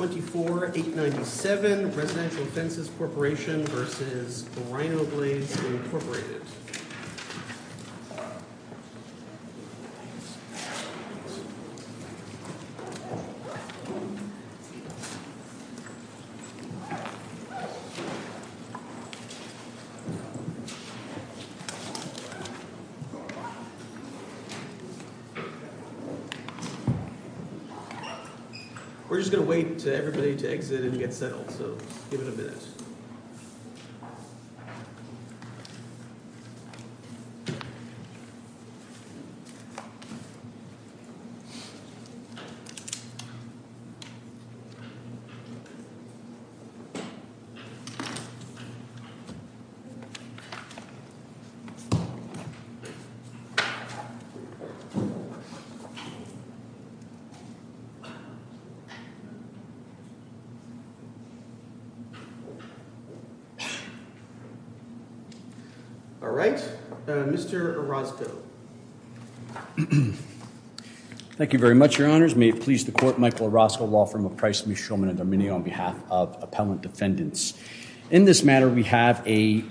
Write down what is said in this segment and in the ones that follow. We're just going to wait to hear from folks about... everybody to exit and get settled, so give it a minute. All right, Mr. Orozco. Thank you very much, your honors. May it please the court, Michael Orozco, law firm of Price v. Shulman & D'Arminio, on behalf of Appellant Defendants. In this matter, we have a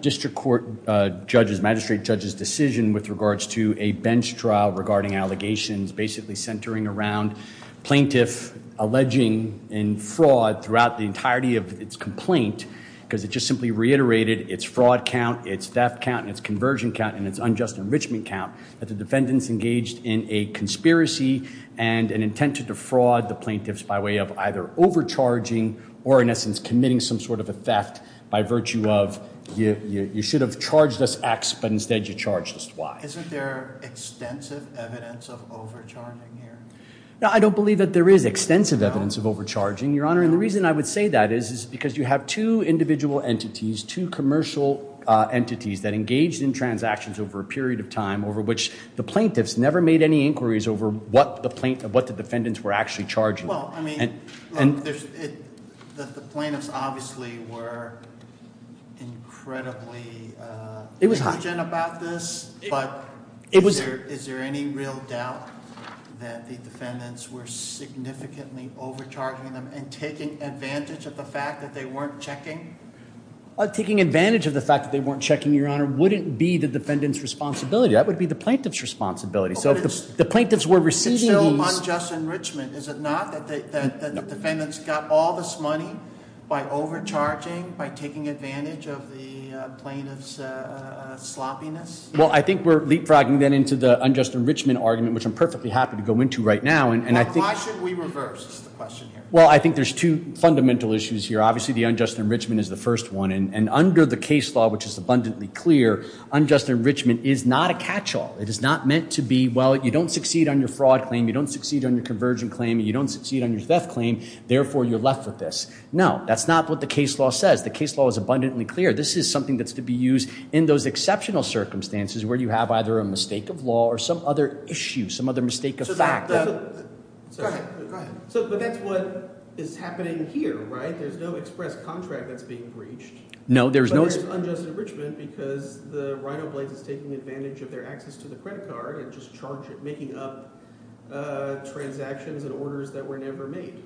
district court judge's, magistrate judge's decision with regards to a bench trial regarding allegations, basically centering around plaintiff alleging in fraud throughout the entirety of its complaint, because it just simply reiterated its fraud count, its theft count, and its conversion count, and its unjust enrichment count, that the defendants engaged in a conspiracy and an intent to defraud the plaintiffs by way of either overcharging or, in essence, committing some sort of a theft by virtue of, you should have charged us X, but instead you charged us Y. Isn't there extensive evidence of overcharging here? I don't believe that there is extensive evidence of overcharging, your honor, and the reason I would say that is, is because you have two individual entities, two commercial entities that engaged in transactions over a period of time over which the plaintiffs never made any inquiries over what the plaintiff, what the defendants were actually charging. Well, I mean, look, the plaintiffs obviously were incredibly intelligent about this, but is there any real doubt that the defendants were significantly overcharging them and taking advantage of the fact that they weren't checking? Taking advantage of the fact that they weren't checking, your honor, wouldn't be the defendant's responsibility. That would be the plaintiff's responsibility. So if the plaintiffs were receiving these- The defendants got all this money by overcharging, by taking advantage of the plaintiff's sloppiness? Well, I think we're leapfrogging then into the unjust enrichment argument, which I'm perfectly happy to go into right now, and I think- Why should we reverse, is the question here. Well, I think there's two fundamental issues here. Obviously, the unjust enrichment is the first one, and under the case law, which is abundantly clear, unjust enrichment is not a catch-all. It is not meant to be, well, you don't succeed on your fraud claim, you don't succeed on your convergent claim, and you don't succeed on your theft claim, therefore, you're left with this. No, that's not what the case law says. The case law is abundantly clear. This is something that's to be used in those exceptional circumstances where you have either a mistake of law or some other issue, some other mistake of fact. Go ahead. But that's what is happening here, right? There's no express contract that's being breached. No, there's no- But there's unjust enrichment because the Rhinoblades is taking advantage of their access to the credit card and just charge it, making up transactions and orders that were never made.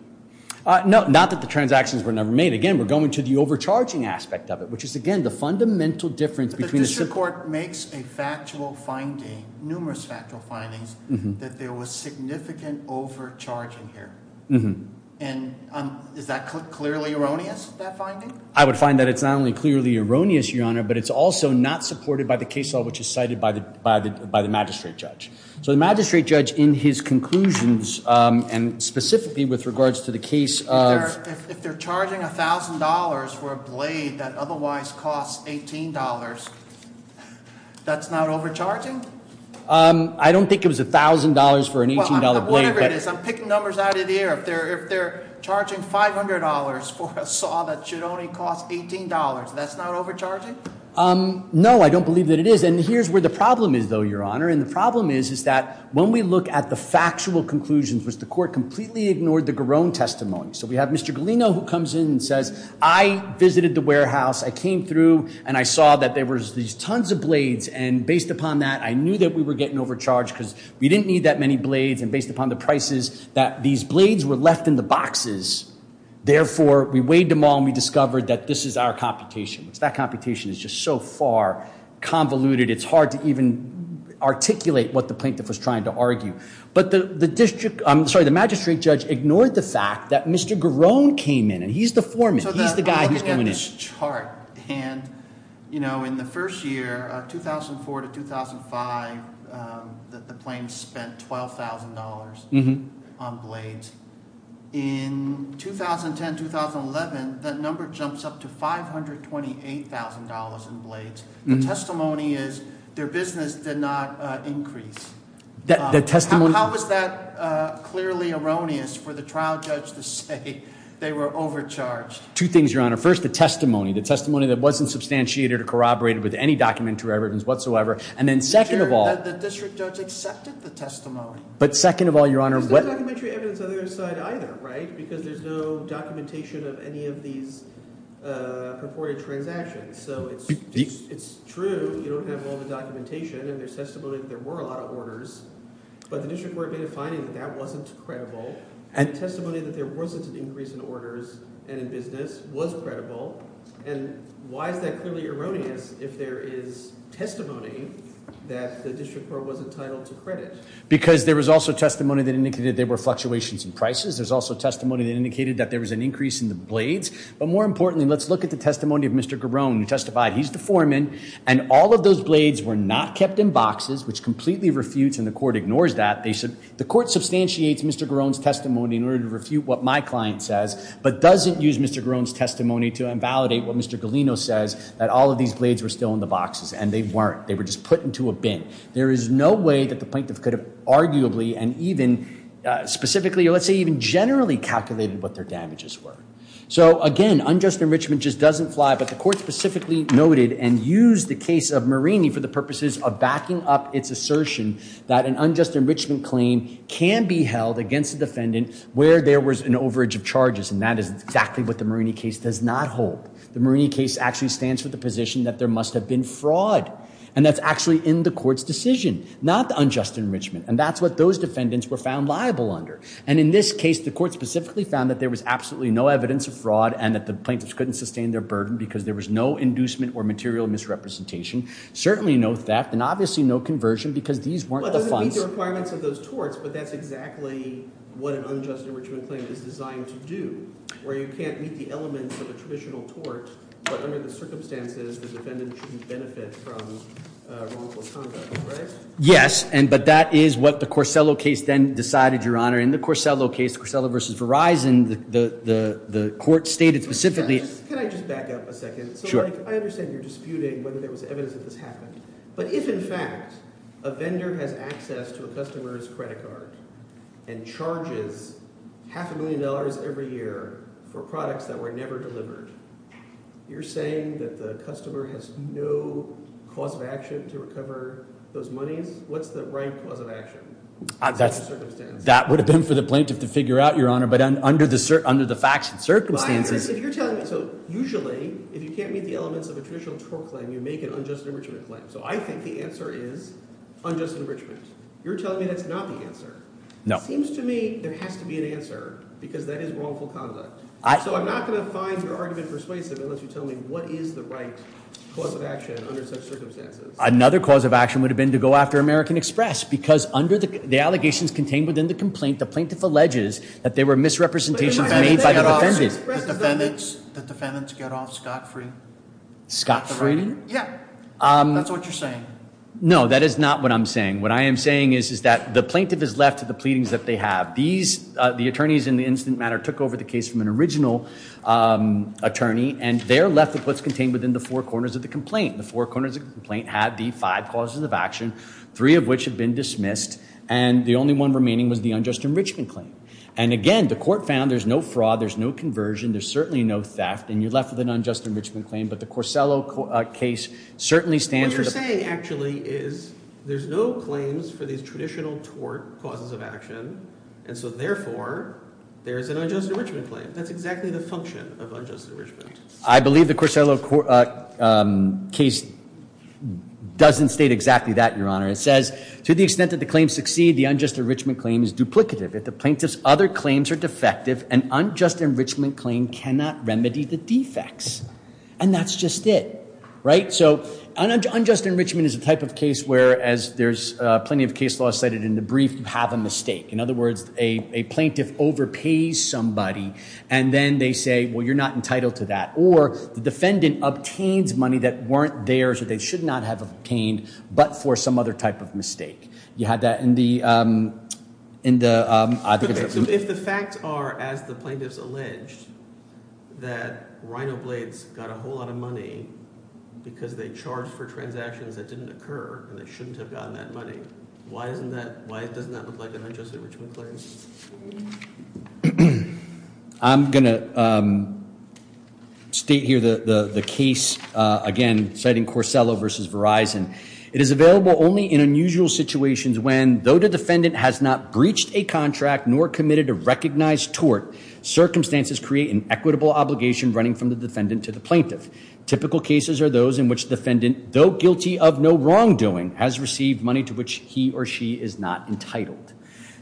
No, not that the transactions were never made. Again, we're going to the overcharging aspect of it, which is, again, the fundamental difference between- But the district court makes a factual finding, numerous factual findings, that there was significant overcharging here, and is that clearly erroneous, that finding? I would find that it's not only clearly erroneous, Your Honor, but it's also not supported by the case law, which is cited by the magistrate judge. So the magistrate judge, in his conclusions, and specifically with regards to the case of- If they're charging $1,000 for a blade that otherwise costs $18, that's not overcharging? I don't think it was $1,000 for an $18 blade, but- Whatever it is, I'm picking numbers out of the air. If they're charging $500 for a saw that should only cost $18, that's not overcharging? No, I don't believe that it is. And here's where the problem is, though, Your Honor, and the problem is, is that when we look at the factual conclusions, which the court completely ignored the Garone testimony. So we have Mr. Galino, who comes in and says, I visited the warehouse, I came through, and I saw that there was these tons of blades, and based upon that, I knew that we were getting overcharged because we didn't need that many blades, and based upon the prices, that these blades were left in the boxes, therefore, we weighed them all, and we discovered that this is our computation. That computation is just so far convoluted, it's hard to even articulate what the plaintiff was trying to argue. But the magistrate judge ignored the fact that Mr. Garone came in, and he's the foreman, he's the guy who's going in. So I'm looking at this chart, and in the first year, 2004 to 2005, the plaintiff spent $12,000 on blades. In 2010, 2011, that number jumps up to $528,000 in blades. The testimony is, their business did not increase. How is that clearly erroneous for the trial judge to say they were overcharged? Two things, Your Honor. First, the testimony. The testimony that wasn't substantiated or corroborated with any documentary evidence whatsoever. And then second of all- The district judge accepted the testimony. But second of all, Your Honor- There's no documentary evidence on their side either, right? Because there's no documentation of any of these purported transactions. So it's true, you don't have all the documentation and there's testimony that there were a lot of orders, but the district court made a finding that that wasn't credible. And testimony that there wasn't an increase in orders and in business was credible. And why is that clearly erroneous if there is testimony that the district court was entitled to credit? Because there was also testimony that indicated there were fluctuations in prices. There's also testimony that indicated that there was an increase in the blades. But more importantly, let's look at the testimony of Mr. Garone, who testified. He's the foreman. And all of those blades were not kept in boxes, which completely refutes and the court ignores that. The court substantiates Mr. Garone's testimony in order to refute what my client says, but doesn't use Mr. Garone's testimony to invalidate what Mr. Galino says, that all of these blades were still in the boxes. And they weren't. They were just put into a bin. There is no way that the plaintiff could have arguably and even specifically, or let's say even generally calculated what their damages were. So again, unjust enrichment just doesn't fly, but the court specifically noted and used the case of Marini for the purposes of backing up its assertion that an unjust enrichment claim can be held against the defendant where there was an overage of charges. And that is exactly what the Marini case does not hold. The Marini case actually stands for the position that there must have been fraud. And that's actually in the court's decision, not the unjust enrichment. And that's what those defendants were found liable under. And in this case, the court specifically found that there was absolutely no evidence of fraud and that the plaintiffs couldn't sustain their burden because there was no inducement or material misrepresentation, certainly no theft, and obviously no conversion because these weren't the funds. Yes, but that is what the Corsello case then decided, Your Honor. In the Corsello case, the Corsello v. Verizon, the court stated specifically... Can I just back up a second? Sure. I understand you're disputing whether there was evidence that this happened. But if, in fact, a vendor has access to a customer's credit card and charges half a million dollars every year for products that were never delivered, you're saying that the customer has no cause of action to recover those monies? What's the right cause of action? That would have been for the plaintiff to figure out, Your Honor, but under the facts and circumstances... If you're telling me... So usually, if you can't meet the elements of a traditional tort claim, you make an unjust enrichment claim. So I think the answer is unjust enrichment. You're telling me that's not the answer. No. It seems to me there has to be an answer, because that is wrongful conduct. So I'm not going to find your argument persuasive unless you tell me what is the right cause of action under such circumstances. Another cause of action would have been to go after American Express, because under the allegations contained within the complaint, the plaintiff alleges that there were misrepresentations made by the defendant. The defendants get off scot-free. Scot-free? Yeah. Okay. That's what you're saying? That is not what I'm saying. What I am saying is that the plaintiff is left to the pleadings that they have. The attorneys in the incident matter took over the case from an original attorney, and they're left with what's contained within the four corners of the complaint. The four corners of the complaint have the five causes of action, three of which have been dismissed, and the only one remaining was the unjust enrichment claim. And again, the court found there's no fraud, there's no conversion, there's certainly no theft, and you're left with an unjust enrichment claim. But the Corsello case certainly stands for the... What you're saying, actually, is there's no claims for these traditional tort causes of action, and so therefore, there's an unjust enrichment claim. That's exactly the function of unjust enrichment. I believe the Corsello case doesn't state exactly that, Your Honor. It says, to the extent that the claims succeed, the unjust enrichment claim is duplicative. If the plaintiff's other claims are defective, an unjust enrichment claim cannot remedy the defects. And that's just it, right? So an unjust enrichment is a type of case where, as there's plenty of case law cited in the brief, you have a mistake. In other words, a plaintiff overpays somebody, and then they say, well, you're not entitled to that. Or the defendant obtains money that weren't theirs, or they should not have obtained, but for some other type of mistake. You had that in the... If the facts are, as the plaintiff's alleged, that Rhin-O-Blades got a whole lot of money because they charged for transactions that didn't occur, and they shouldn't have gotten that money, why doesn't that look like an unjust enrichment claim? I'm going to state here the case, again, citing Corsello v. Verizon. It is available only in unusual situations when, though the defendant has not breached a contract nor committed a recognized tort, circumstances create an equitable obligation running from the defendant to the plaintiff. Typical cases are those in which the defendant, though guilty of no wrongdoing, has received money to which he or she is not entitled.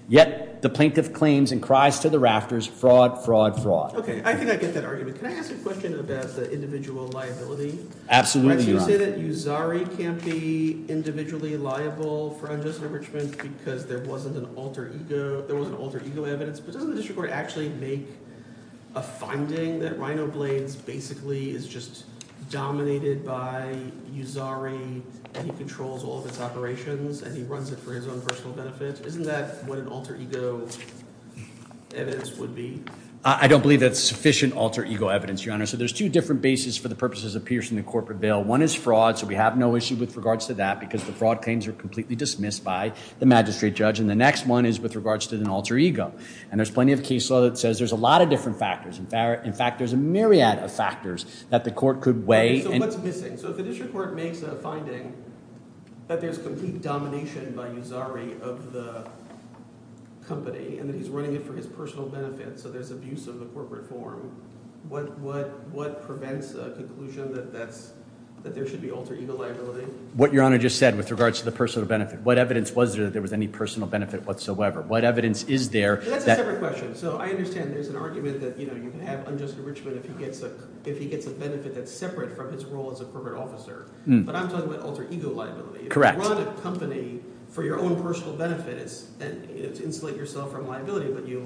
Yet, the plaintiff claims and cries to the rafters, fraud, fraud, fraud. Okay, I think I get that argument. Can I ask a question about the individual liability? Absolutely, Your Honor. You say that Uzari can't be individually liable for unjust enrichment because there was an alter ego evidence, but doesn't the district court actually make a finding that Rhin-O-Blades basically is just dominated by Uzari, and he controls all of its operations, and he runs it for his own personal benefit? Isn't that what an alter ego evidence would be? I don't believe that's sufficient alter ego evidence, Your Honor. There's two different bases for the purposes of piercing the corporate bail. One is fraud, so we have no issue with regards to that, because the fraud claims are completely dismissed by the magistrate judge, and the next one is with regards to an alter ego. And there's plenty of case law that says there's a lot of different factors. In fact, there's a myriad of factors that the court could weigh. Okay, so what's missing? So if the district court makes a finding that there's complete domination by Uzari of the company, and that he's running it for his personal benefit, so there's abuse of the corporate form, that there should be alter ego liability? What Your Honor just said with regards to the personal benefit. What evidence was there that there was any personal benefit whatsoever? What evidence is there? That's a separate question. So I understand there's an argument that you can have unjust enrichment if he gets a benefit that's separate from his role as a corporate officer, but I'm talking about alter ego liability. Correct. If you run a company for your own personal benefit, it's to insulate yourself from liability, but you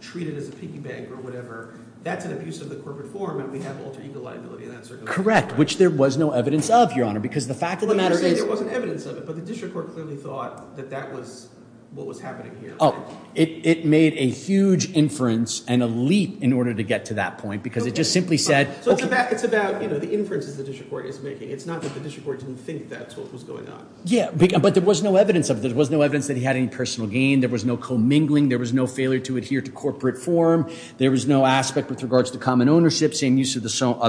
treat it as a piggy bank or whatever, that's an abuse of the corporate form, and we have alter ego liability in that circumstance. Correct, which there was no evidence of, Your Honor, because the fact of the matter is... You're saying there wasn't evidence of it, but the district court clearly thought that that was what was happening here. Oh, it made a huge inference and a leap in order to get to that point, because it just simply said... So it's about the inferences the district court is making. It's not that the district court didn't think that's what was going on. Yeah, but there was no evidence of it. There was no evidence that he had any personal gain, there was no commingling, there was no failure to adhere to corporate form, there was no aspect with regards to common ownership, same use of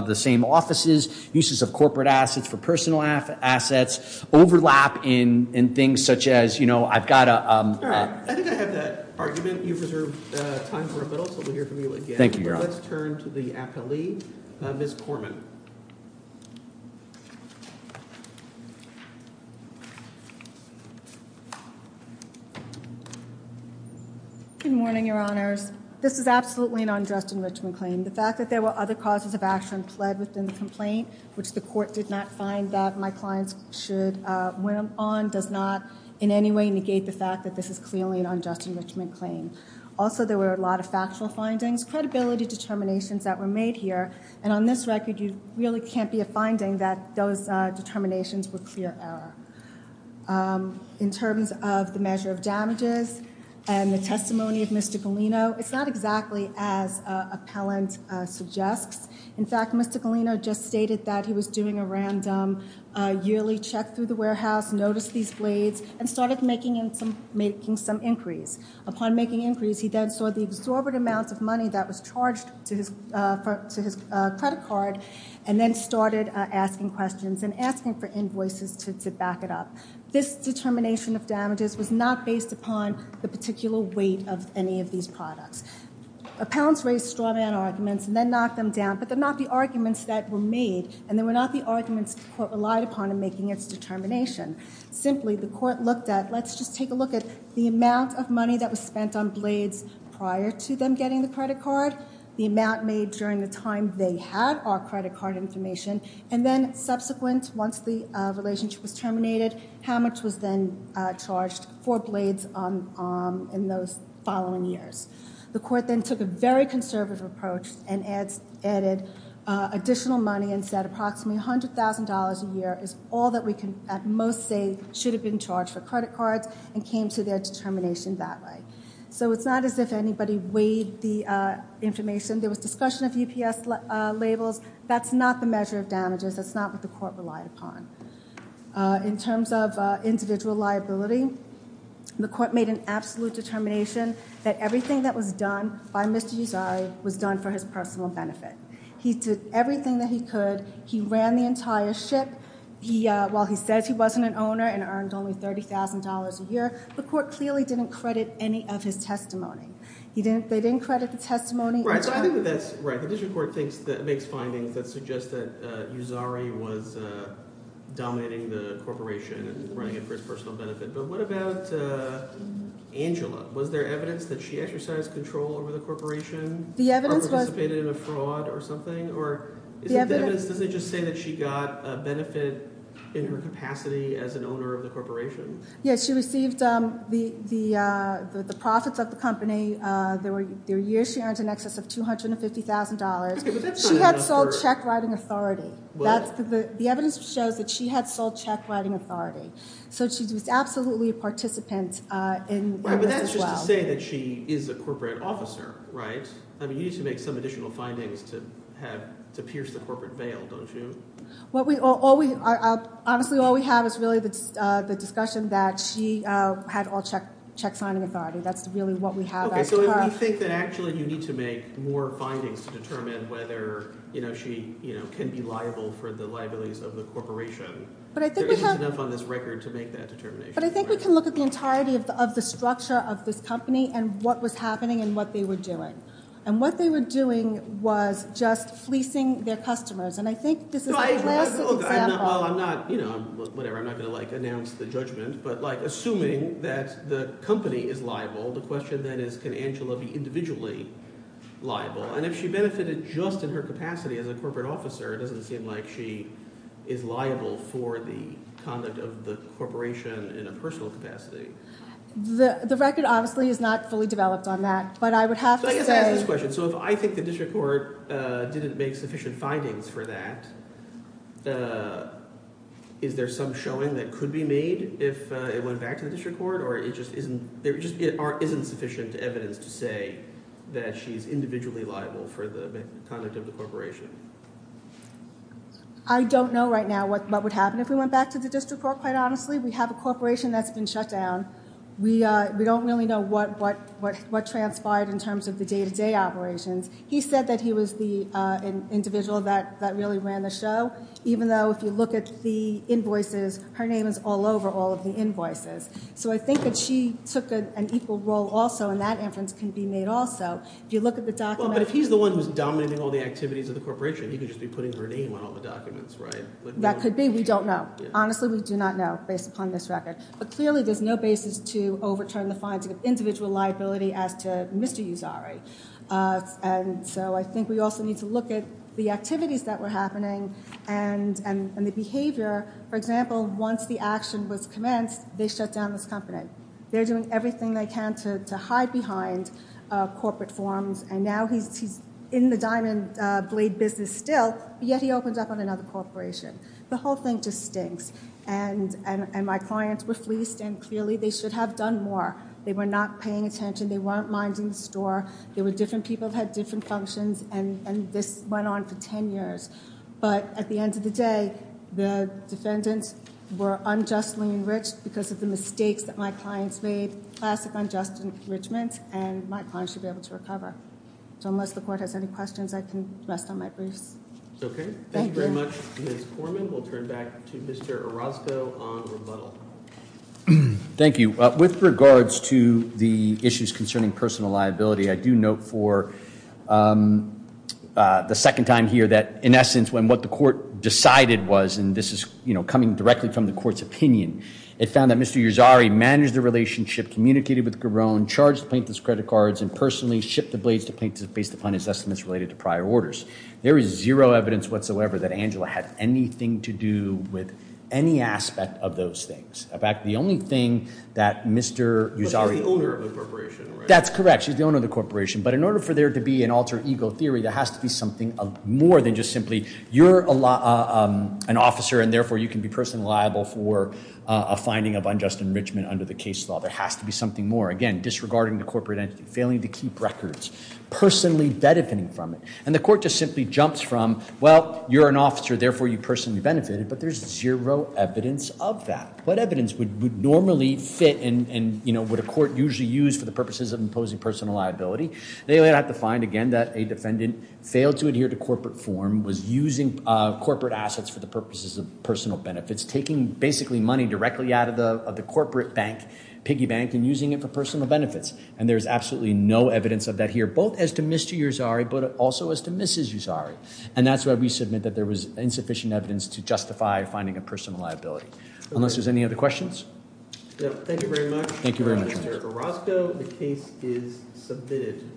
the same offices, uses of corporate assets for personal assets, overlap in things such as, you know, I've got a... All right, I think I have that argument. You've reserved time for a minute, so we'll hear from you again. Thank you, Your Honor. Let's turn to the appellee, Ms. Corman. Good morning, Your Honors. This is absolutely an undressed enrichment claim. The fact that there were other causes of action pled within the complaint, which the court did not find that my clients should win on, does not in any way negate the fact that this is clearly an undressed enrichment claim. Also, there were a lot of factual findings, credibility determinations that were made here, and on this record, you really can't be a finding that those determinations were clear error. In terms of the measure of damages and the testimony of Mr. Galino, it's not exactly as appellant suggests. In fact, Mr. Galino just stated that he was doing a random yearly check through the warehouse, noticed these blades, and started making some inquiries. Upon making inquiries, he then saw the exorbitant amounts of money that was charged to his credit card, and then started asking questions and asking for invoices to back it up. This determination of damages was not based upon the particular weight of any of these products. Appellants raise straw man arguments and then knock them down, but they're not the arguments that were made, and they were not the arguments the court relied upon in making its determination. Simply, the court looked at, let's just take a look at the amount of money that was spent on blades prior to them getting the credit card, the amount made during the time they had our credit card information, and then subsequent, once the relationship was terminated, how much was then charged for blades in those following years. The court then took a very conservative approach and added additional money and said approximately $100,000 a year is all that we can at most say should have been charged for credit cards and came to their determination that way. It's not as if anybody weighed the information. There was discussion of UPS labels. That's not the measure of damages. That's not what the court relied upon. In terms of individual liability, the court made an absolute determination that everything that was done by Mr. Uzari was done for his personal benefit. He did everything that he could. He ran the entire ship. While he says he wasn't an owner and earned only $30,000 a year, the court clearly didn't credit any of his testimony. They didn't credit the testimony. Right. So I think that that's right. The district court makes findings that suggest that Uzari was dominating the corporation and running it for his personal benefit, but what about Angela? Was there evidence that she exercised control over the corporation? The evidence was – Participated in a fraud or something? The evidence – Does it just say that she got a benefit in her capacity as an owner of the corporation? Yes, she received the profits of the company. There were years she earned in excess of $250,000. She had sold check writing authority. The evidence shows that she had sold check writing authority. So she was absolutely a participant in – But that's just to say that she is a corporate officer, right? You need to make some additional findings to pierce the corporate veil, don't you? Honestly, all we have is really the discussion that she had all check signing authority. That's really what we have as to her. So we think that actually you need to make more findings to determine whether she can be liable for the liabilities of the corporation. There isn't enough on this record to make that determination. But I think we can look at the entirety of the structure of this company and what was happening and what they were doing. And what they were doing was just fleecing their customers. And I think this is the last example – Well, I'm not – whatever. I'm not going to announce the judgment. But assuming that the company is liable, the question then is can Angela be individually liable? And if she benefited just in her capacity as a corporate officer, it doesn't seem like she is liable for the conduct of the corporation in a personal capacity. The record, honestly, is not fully developed on that. But I would have to say – So I guess I ask this question. So if I think the district court didn't make sufficient findings for that, is there some showing that could be made if it went back to the district court? Or it just isn't – there just isn't sufficient evidence to say that she's individually liable for the conduct of the corporation? I don't know right now what would happen if we went back to the district court, quite honestly. We have a corporation that's been shut down. We don't really know what transpired in terms of the day-to-day operations. He said that he was the individual that really ran the show, even though if you look at the invoices, her name is all over all of the invoices. So I think that she took an equal role also, and that inference can be made also. If you look at the documents – But if he's the one who's dominating all the activities of the corporation, he could just be putting her name on all the documents, right? That could be. We don't know. Honestly, we do not know, based upon this record. But clearly there's no basis to overturn the finding of individual liability as to Mr. Uzari. And so I think we also need to look at the activities that were happening and the behavior. For example, once the action was commenced, they shut down this company. They're doing everything they can to hide behind corporate forms, and now he's in the diamond blade business still, yet he opens up on another corporation. The whole thing just stinks. And my clients were fleeced, and clearly they should have done more. They were not paying attention. They weren't minding the store. There were different people that had different functions, and this went on for 10 years. But at the end of the day, the defendants were unjustly enriched because of the mistakes that my clients made. It's a classic unjust enrichment, and my clients should be able to recover. So unless the court has any questions, I can rest on my briefs. Okay. Thank you very much, Ms. Korman. We'll turn back to Mr. Orozco on rebuttal. Thank you. With regards to the issues concerning personal liability, I do note for the second time here that, in essence, when what the court decided was, and this is coming directly from the court's opinion, it found that Mr. Uzari managed the relationship, communicated with Garone, charged the plaintiff's credit cards, and personally shipped the blades to the plaintiff based upon his estimates related to prior orders. There is zero evidence whatsoever that Angela had anything to do with any aspect of those things. In fact, the only thing that Mr. Uzari... But she's the owner of the corporation, right? That's correct. She's the owner of the corporation. But in order for there to be an alter ego theory, there has to be something more than just simply you're an officer, and therefore you can be personally liable for a finding of unjust enrichment under the case law. There has to be something more. Again, disregarding the corporate entity, failing to keep records, personally benefiting from it. And the court just simply jumps from, well, you're an officer, therefore you personally benefited, but there's zero evidence of that. What evidence would normally fit and, you know, would a court usually use for the purposes of imposing personal liability? They would have to find, again, that a defendant failed to adhere to corporate form, was using corporate assets for the purposes of personal benefits, taking basically money directly out of the corporate bank, piggy bank, and using it for personal benefits. And there's absolutely no evidence of that here, both as to Mr. Uzari, but also as to Mrs. Uzari. And that's why we submit that there was insufficient evidence to justify finding a personal liability. Unless there's any other questions? Thank you very much. Thank you very much. Mr. Orozco, the case is submitted.